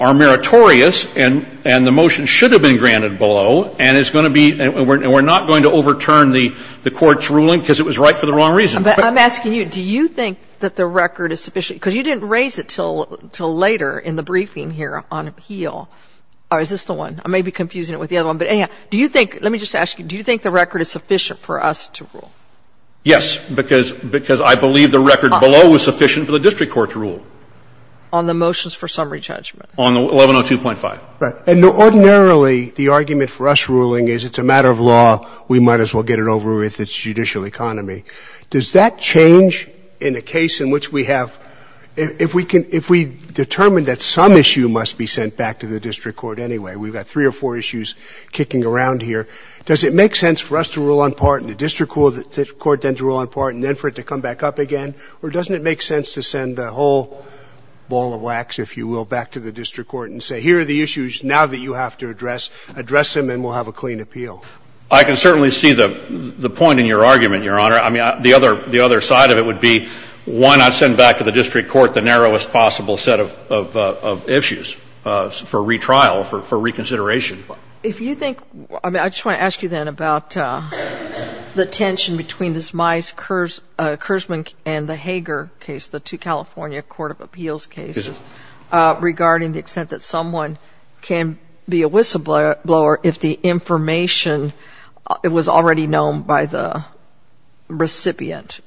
are meritorious and the motion should have been granted below. And it's going to be – and we're not going to overturn the Court's ruling because it was right for the wrong reason. But I'm asking you, do you think that the record is sufficient? Because you didn't raise it until later in the briefing here on HEAL. Or is this the one? I may be confusing it with the other one. But anyhow, do you think – let me just ask you, do you think the record is sufficient for us to rule? Yes, because I believe the record below was sufficient for the district court to rule. On the motions for summary judgment? On the 1102.5. Right. And ordinarily, the argument for us ruling is it's a matter of law, we might as well get it over with, it's judicial economy. Does that change in a case in which we have – if we determine that some issue must be sent back to the district court anyway, we've got three or four issues kicking around here, does it make sense for us to rule on part and the district court then to rule on part and then for it to come back up again? Or doesn't it make sense to send the whole ball of wax, if you will, back to the district court and say, here are the issues, now that you have to address them and we'll have a clean appeal? I can certainly see the point in your argument, Your Honor. I mean, the other side of it would be why not send back to the district court the narrowest possible set of issues for retrial, for reconsideration? If you think – I mean, I just want to ask you then about the tension between this Mize-Kersman and the Hager case, the two California court of appeals cases, regarding the extent that someone can be a whistleblower if the information was already known by the recipient.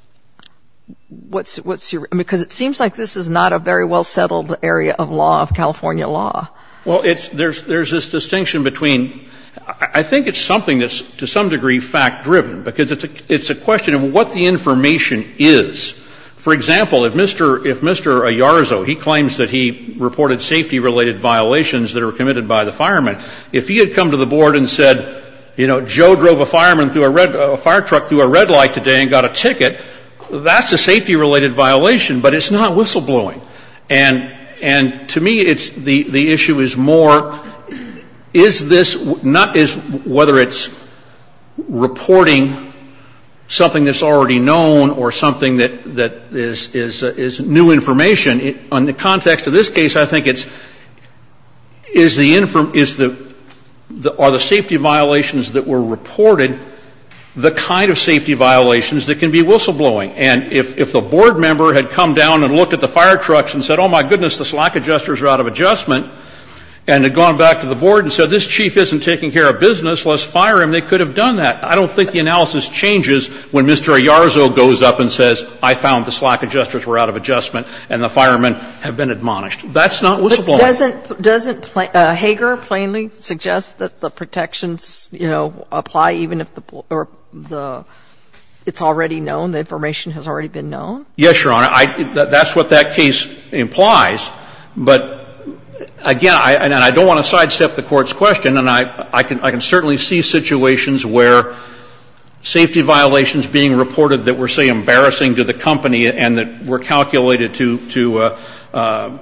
What's your – because it seems like this is not a very well-settled area of law, of California law. Well, there's this distinction between – I think it's something that's to some degree fact-driven, because it's a question of what the information is. For example, if Mr. Ayarzo, he claims that he reported safety-related violations that were committed by the fireman, if he had come to the board and said, you know, Joe drove a fireman through a red – a fire truck through a red light today and got a ticket, that's a safety-related violation, but it's not whistleblowing. And to me, it's – the issue is more is this – not is – whether it's reporting something that's already known or something that is new information. In the context of this case, I think it's – is the – are the safety violations that were reported the kind of safety violations that can be whistleblowing? And if the board member had come down and looked at the fire trucks and said, oh, my goodness, the slack adjusters are out of adjustment, and had gone back to the board and said, this chief isn't taking care of business, let's fire him, they could have done that. I don't think the analysis changes when Mr. Ayarzo goes up and says, I found the slack adjusters were out of adjustment and the firemen have been admonished. That's not whistleblowing. But doesn't – doesn't Hager plainly suggest that the protections, you know, apply even if the – or the – it's already known, the information has already been known? Yes, Your Honor. I – that's what that case implies. But, again, I – and I don't want to sidestep the Court's question, and I – I can certainly see situations where safety violations being reported that were, say, embarrassing to the company and that were calculated to – to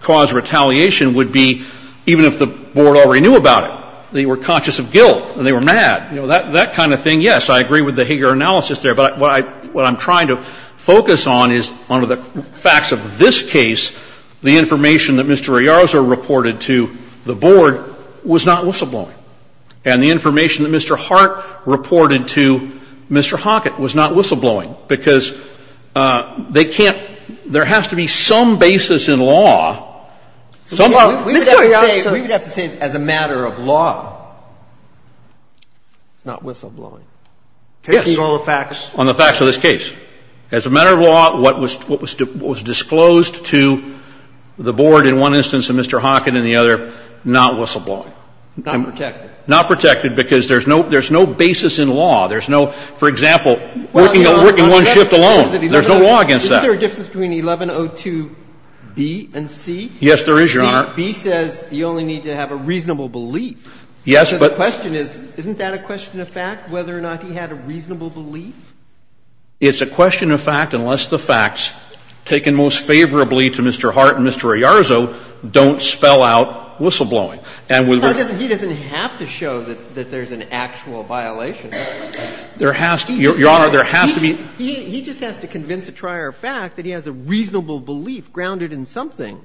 cause retaliation would be even if the board already knew about it. They were conscious of guilt and they were mad. You know, that – that kind of thing, yes, I agree with the Hager analysis there. But what I – what I'm trying to focus on is under the facts of this case, the information that Mr. Ayarzo reported to the board was not whistleblowing. And the information that Mr. Hart reported to Mr. Hockett was not whistleblowing because they can't – there has to be some basis in law, some – Mr. Ayarzo. We would have to say – we would have to say as a matter of law it's not whistleblowing. Yes. Taking all the facts. On the facts of this case. As a matter of law, what was – what was disclosed to the board in one instance and Mr. Hockett in the other, not whistleblowing. Not protected. Not protected because there's no – there's no basis in law. There's no – for example, working one shift alone. There's no law against that. Isn't there a difference between 1102B and C? Yes, there is, Your Honor. C, B says you only need to have a reasonable belief. Yes, but – So the question is, isn't that a question of fact, whether or not he had a reasonable belief? It's a question of fact unless the facts taken most favorably to Mr. Hart and Mr. Ayarzo don't spell out whistleblowing. And with – He doesn't have to show that there's an actual violation. There has to – Your Honor, there has to be – He just has to convince a trier of fact that he has a reasonable belief grounded in something.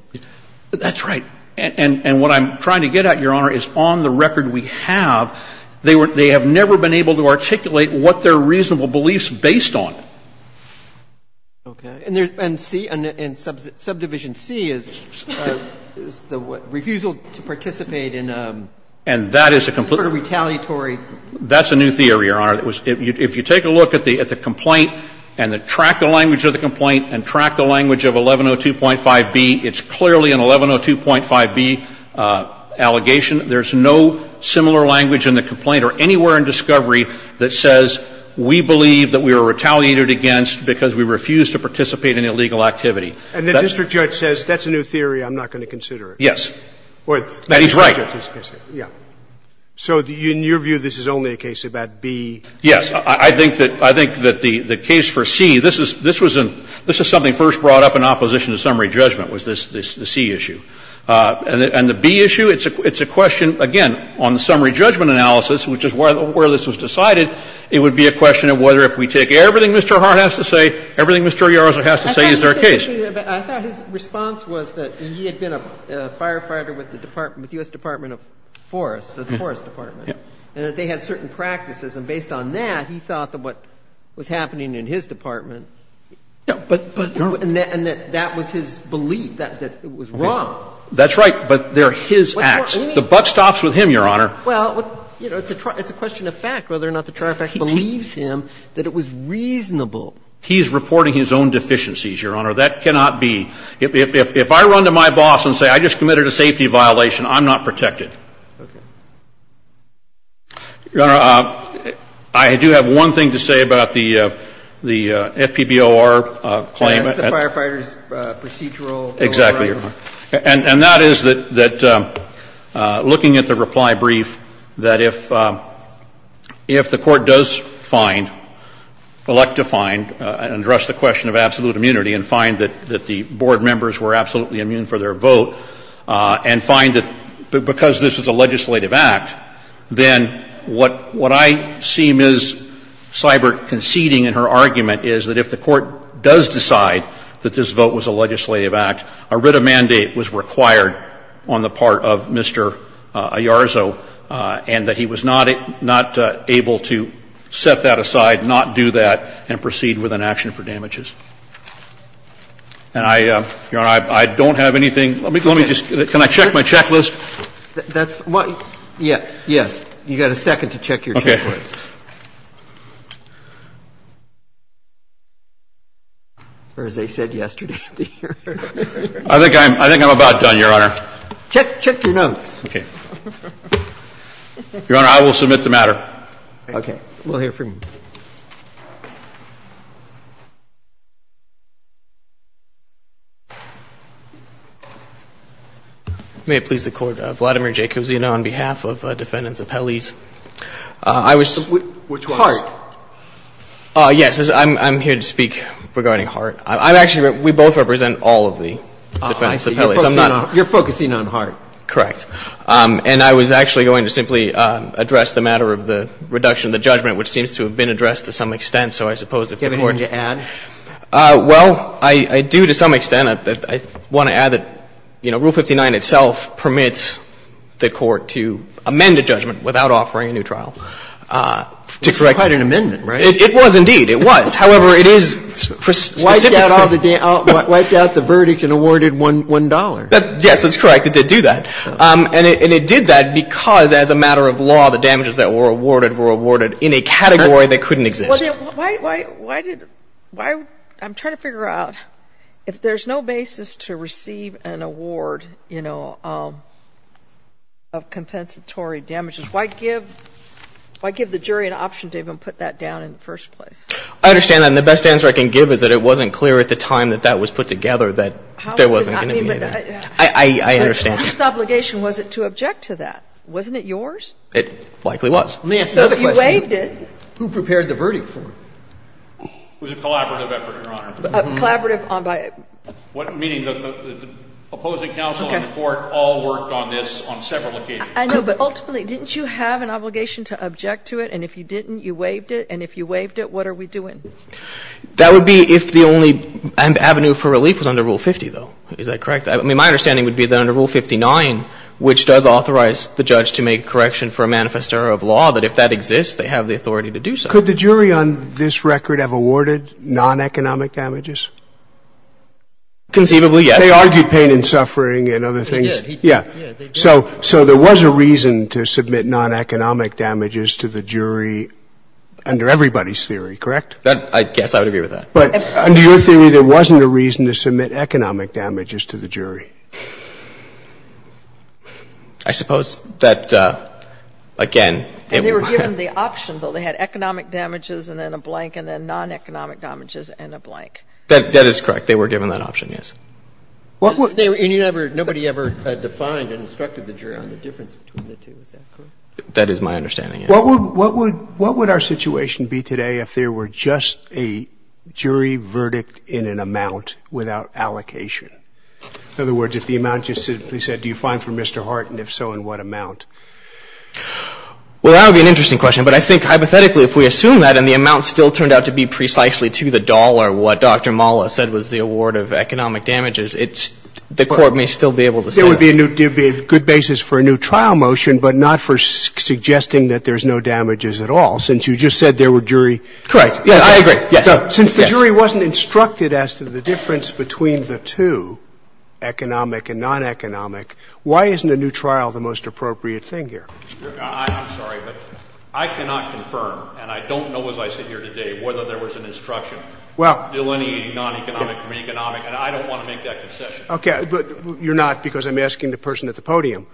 That's right. And what I'm trying to get at, Your Honor, is on the record we have, they have never been able to articulate what their reasonable belief's based on. Okay. And C, subdivision C is the refusal to participate in a sort of retaliatory – And that is a – that's a new theory, Your Honor. If you take a look at the complaint and track the language of the complaint and track the language of 1102.5B, it's clearly an 1102.5B allegation. There's no similar language in the complaint or anywhere in discovery that says we believe that we are retaliated against because we refuse to participate in illegal activity. And the district judge says that's a new theory, I'm not going to consider it. Yes. That he's right. Yeah. So in your view, this is only a case about B? Yes. I think that the case for C, this is something first brought up in opposition to summary judgment, was this, the C issue. And the B issue, it's a question, again, on the summary judgment analysis, which is where this was decided. It would be a question of whether if we take everything Mr. Hart has to say, everything Mr. Yarza has to say, is there a case? I thought his response was that he had been a firefighter with the U.S. Department of Forest, the Forest Department, and that they had certain practices. And based on that, he thought that what was happening in his department, and that that was his belief, that it was wrong. That's right. But they're his acts. The buck stops with him, Your Honor. Well, you know, it's a question of fact whether or not the trial fact believes him that it was reasonable. He's reporting his own deficiencies, Your Honor. That cannot be. If I run to my boss and say I just committed a safety violation, I'm not protected. Okay. Your Honor, I do have one thing to say about the FPBOR claim. That's the Firefighters Procedural Bill of Rights. Exactly, Your Honor. And that is that looking at the reply brief, that if the Court does find, elect to find, address the question of absolute immunity and find that the board members were absolutely immune for their vote, and find that because this was a legislative act, then what I see Ms. Seibert conceding in her argument is that if the Court does decide that this vote was a legislative act, a writ of mandate was required on the part of Mr. Ayarzo, and that he was not able to set that aside, not do that, and proceed with an action for damages. And I, Your Honor, I don't have anything. Let me just, can I check my checklist? That's what, yes. You've got a second to check your checklist. Okay. Or as they said yesterday. I think I'm, I think I'm about done, Your Honor. Check, check your notes. Okay. Your Honor, I will submit the matter. Okay. We'll hear from you. May it please the Court. Vladimir Jacozino on behalf of Defendants Appellees. I was. Which one? Hart. Yes. I'm here to speak regarding Hart. I'm actually, we both represent all of the Defendants Appellees. I'm not. You're focusing on Hart. Correct. And I was actually going to simply address the matter of the reduction of the judgment, which seems to have been addressed to some extent. So I suppose if the Court. Do you have anything to add? I want to add that, you know, Rule 59 itself permits the Court to amend a judgment without offering a new trial. To correct. It's quite an amendment, right? It was indeed. It was. However, it is. Wiped out all the, wiped out the verdict and awarded $1. Yes, that's correct. It did do that. And it did that because as a matter of law, the damages that were awarded were awarded in a category that couldn't exist. Why, why, why did, why, I'm trying to figure out if there's no basis to receive an award, you know, of compensatory damages, why give, why give the jury an option to even put that down in the first place? I understand that. And the best answer I can give is that it wasn't clear at the time that that was put together that there wasn't going to be that. I, I, I understand. But whose obligation was it to object to that? Wasn't it yours? It likely was. Let me ask another question. But you waived it. Who prepared the verdict for him? It was a collaborative effort, Your Honor. A collaborative on by. What, meaning the opposing counsel and the Court all worked on this on several occasions. I know, but ultimately, didn't you have an obligation to object to it? And if you didn't, you waived it. And if you waived it, what are we doing? That would be if the only avenue for relief was under Rule 50, though. Is that correct? I mean, my understanding would be that under Rule 59, which does authorize the judge to make a correction for a manifest error of law, that if that exists, they have the authority to do so. Could the jury on this record have awarded non-economic damages? Conceivably, yes. They argued pain and suffering and other things. They did. Yeah. So there was a reason to submit non-economic damages to the jury under everybody's theory, correct? I guess I would agree with that. But under your theory, there wasn't a reason to submit economic damages to the jury? I suppose that, again, it would be. And they were given the option, though. They had economic damages and then a blank and then non-economic damages and a blank. That is correct. They were given that option, yes. Nobody ever defined and instructed the jury on the difference between the two. Is that correct? That is my understanding, yes. What would our situation be today if there were just a jury verdict in an amount without allocation? In other words, if the amount just simply said, do you find for Mr. Hart, and if so, in what amount? Well, that would be an interesting question. But I think hypothetically, if we assume that and the amount still turned out to be precisely to the dollar, what Dr. Mala said was the award of economic damages, the Court may still be able to say that. There would be a good basis for a new trial motion, but not for suggesting that there's no damages at all, since you just said there were jury verdicts. Correct. I agree. Since the jury wasn't instructed as to the difference between the two, economic and non-economic, why isn't a new trial the most appropriate thing here? I'm sorry, but I cannot confirm, and I don't know as I sit here today, whether there was an instruction. Well. Non-economic or economic, and I don't want to make that concession. Okay. But you're not, because I'm asking the person at the podium.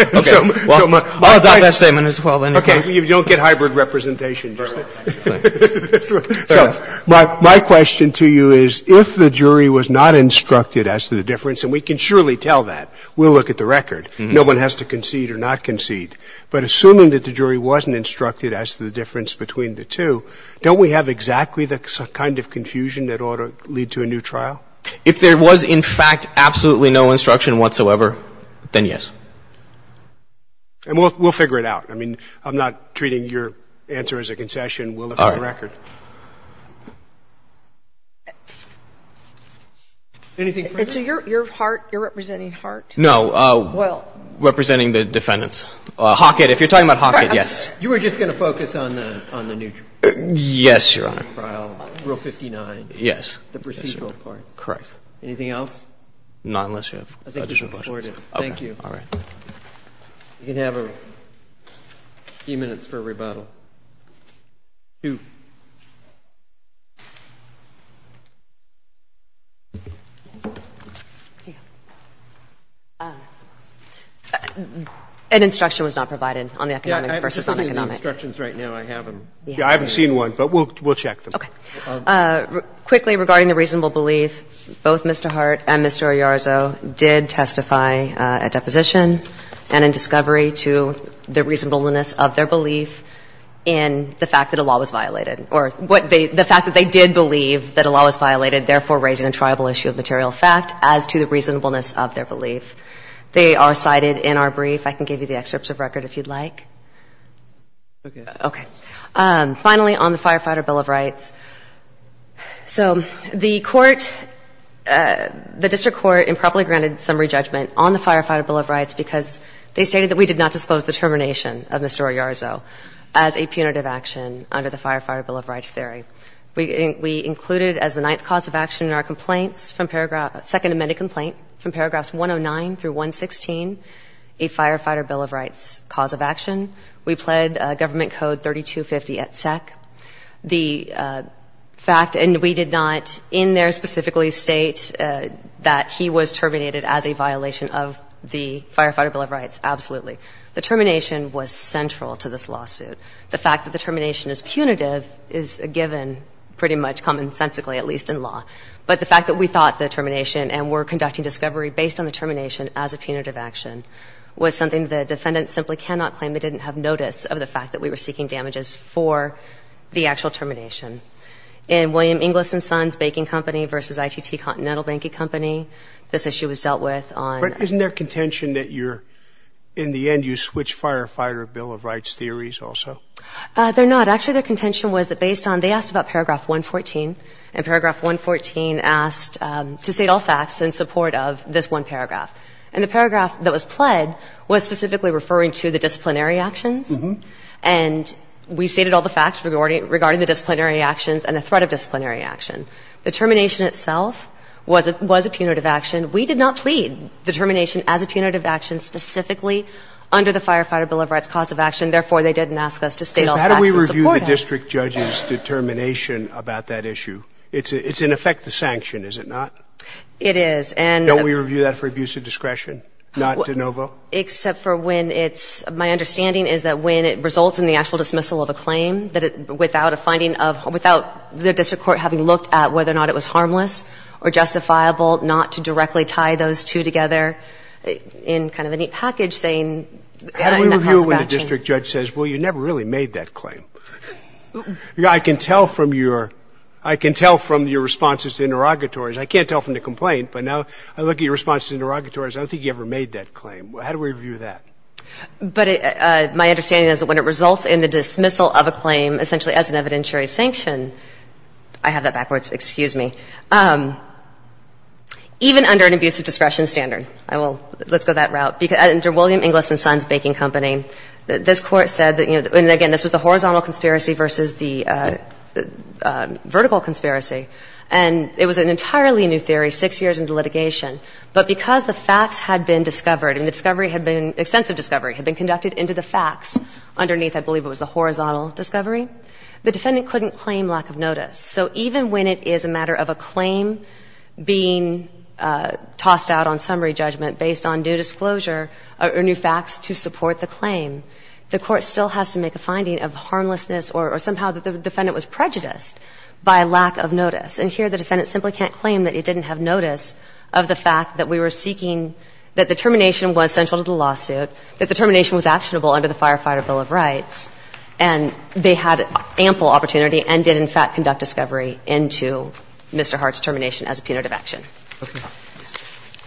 Okay. I'll adopt that statement as well, then. Okay. You don't get hybrid representation. Fair enough. Fair enough. So my question to you is, if the jury was not instructed as to the difference, and we can surely tell that. We'll look at the record. No one has to concede or not concede. But assuming that the jury wasn't instructed as to the difference between the two, don't we have exactly the kind of confusion that ought to lead to a new trial? If there was, in fact, absolutely no instruction whatsoever, then yes. And we'll figure it out. I mean, I'm not treating your answer as a concession. We'll look at the record. All right. Anything further? So your heart, you're representing heart? No. Well. Representing the defendants. Hockett. If you're talking about Hockett, yes. You were just going to focus on the new trial. Yes, Your Honor. Rule 59. Yes. The procedural part. Correct. Anything else? Not unless you have additional questions. I think we've supported it. Okay. Thank you. All right. You can have a few minutes for rebuttal. An instruction was not provided on the economic versus non-economic. Yeah. I haven't seen one, but we'll check them. Okay. Quickly, regarding the reasonable belief, both Mr. Hart and Mr. Ayarzo did testify at deposition and in discovery to the reasonableness of their belief in the fact that a law was violated, or the fact that they did believe that a law was violated, therefore raising a tribal issue of material fact, as to the reasonableness of their belief. They are cited in our brief. I can give you the excerpts of record if you'd like. Okay. Okay. Finally, on the Firefighter Bill of Rights. So the court, the district court improperly granted summary judgment on the Firefighter Bill of Rights because they stated that we did not dispose the termination of Mr. Ayarzo as a punitive action under the Firefighter Bill of Rights theory. We included as the ninth cause of action in our complaints from paragraph, second amended complaint from paragraphs 109 through 116, a Firefighter Bill of Rights cause of action. We pled government code 3250 at SEC. The fact, and we did not in there specifically state that he was terminated as a violation of the Firefighter Bill of Rights, absolutely. The termination was central to this lawsuit. The fact that the termination is punitive is a given pretty much commonsensically, at least in law. But the fact that we thought the termination and were conducting discovery based on the termination as a punitive action was something the defendant simply cannot claim they didn't have notice of the fact that we were seeking damages for the actual termination. In William Inglis and Sons Baking Company versus ITT Continental Banking Company, this issue was dealt with on... But isn't there contention that you're, in the end, you switch Firefighter Bill of Rights theories also? They're not. Actually, their contention was that based on, they asked about paragraph 114, and paragraph 114 asked to state all facts in support of this one paragraph. And the paragraph that was pled was specifically referring to the disciplinary actions and we stated all the facts regarding the disciplinary actions and the threat of disciplinary action. The termination itself was a punitive action. We did not plead the termination as a punitive action specifically under the Firefighter Bill of Rights cause of action. Therefore, they didn't ask us to state all facts in support of it. But how do we review the district judge's determination about that issue? It's in effect a sanction, is it not? It is. Don't we review that for abuse of discretion, not de novo? Except for when it's, my understanding is that when it results in the actual dismissal of a claim, without a finding of, without the district court having looked at whether or not it was harmless or justifiable, not to directly tie those two together in kind of a neat package saying... How do we review it when the district judge says, well, you never really made that claim? I can tell from your, I can tell from your responses to interrogatories, I can't tell from the complaint, but now I look at your responses to interrogatories, I don't think you ever made that claim. How do we review that? But my understanding is that when it results in the dismissal of a claim essentially as an evidentiary sanction, I have that backwards. Excuse me. Even under an abuse of discretion standard, I will, let's go that route. Under William Inglis and Sons Baking Company, this Court said that, you know, and again, this was the horizontal conspiracy versus the vertical conspiracy. And it was an entirely new theory six years into litigation. But because the facts had been discovered and the discovery had been, extensive discovery had been conducted into the facts underneath, I believe it was the horizontal discovery, the defendant couldn't claim lack of notice. So even when it is a matter of a claim being tossed out on summary judgment based on new disclosure or new facts to support the claim, the Court still has to make a finding of harmlessness or somehow the defendant was prejudiced by lack of notice. And here the defendant simply can't claim that he didn't have notice of the fact that we were seeking that the termination was central to the lawsuit, that the termination was actionable under the Firefighter Bill of Rights. And they had ample opportunity and did, in fact, conduct discovery into Mr. Hart's termination as a punitive action. Roberts.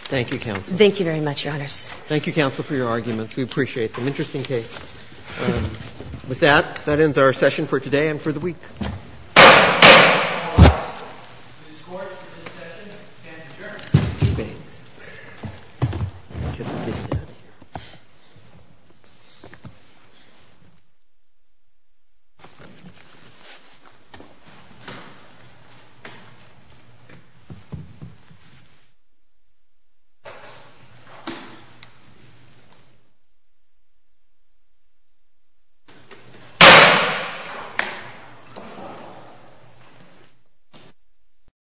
Thank you, counsel. Thank you very much, Your Honors. Thank you, counsel, for your arguments. We appreciate them. Interesting case. With that, that ends our session for today and for the week. And, Mr. Wallace, the Court for this session can adjourn. Thank you. Thank you. Thank you. Thank you. Thank you. Thank you.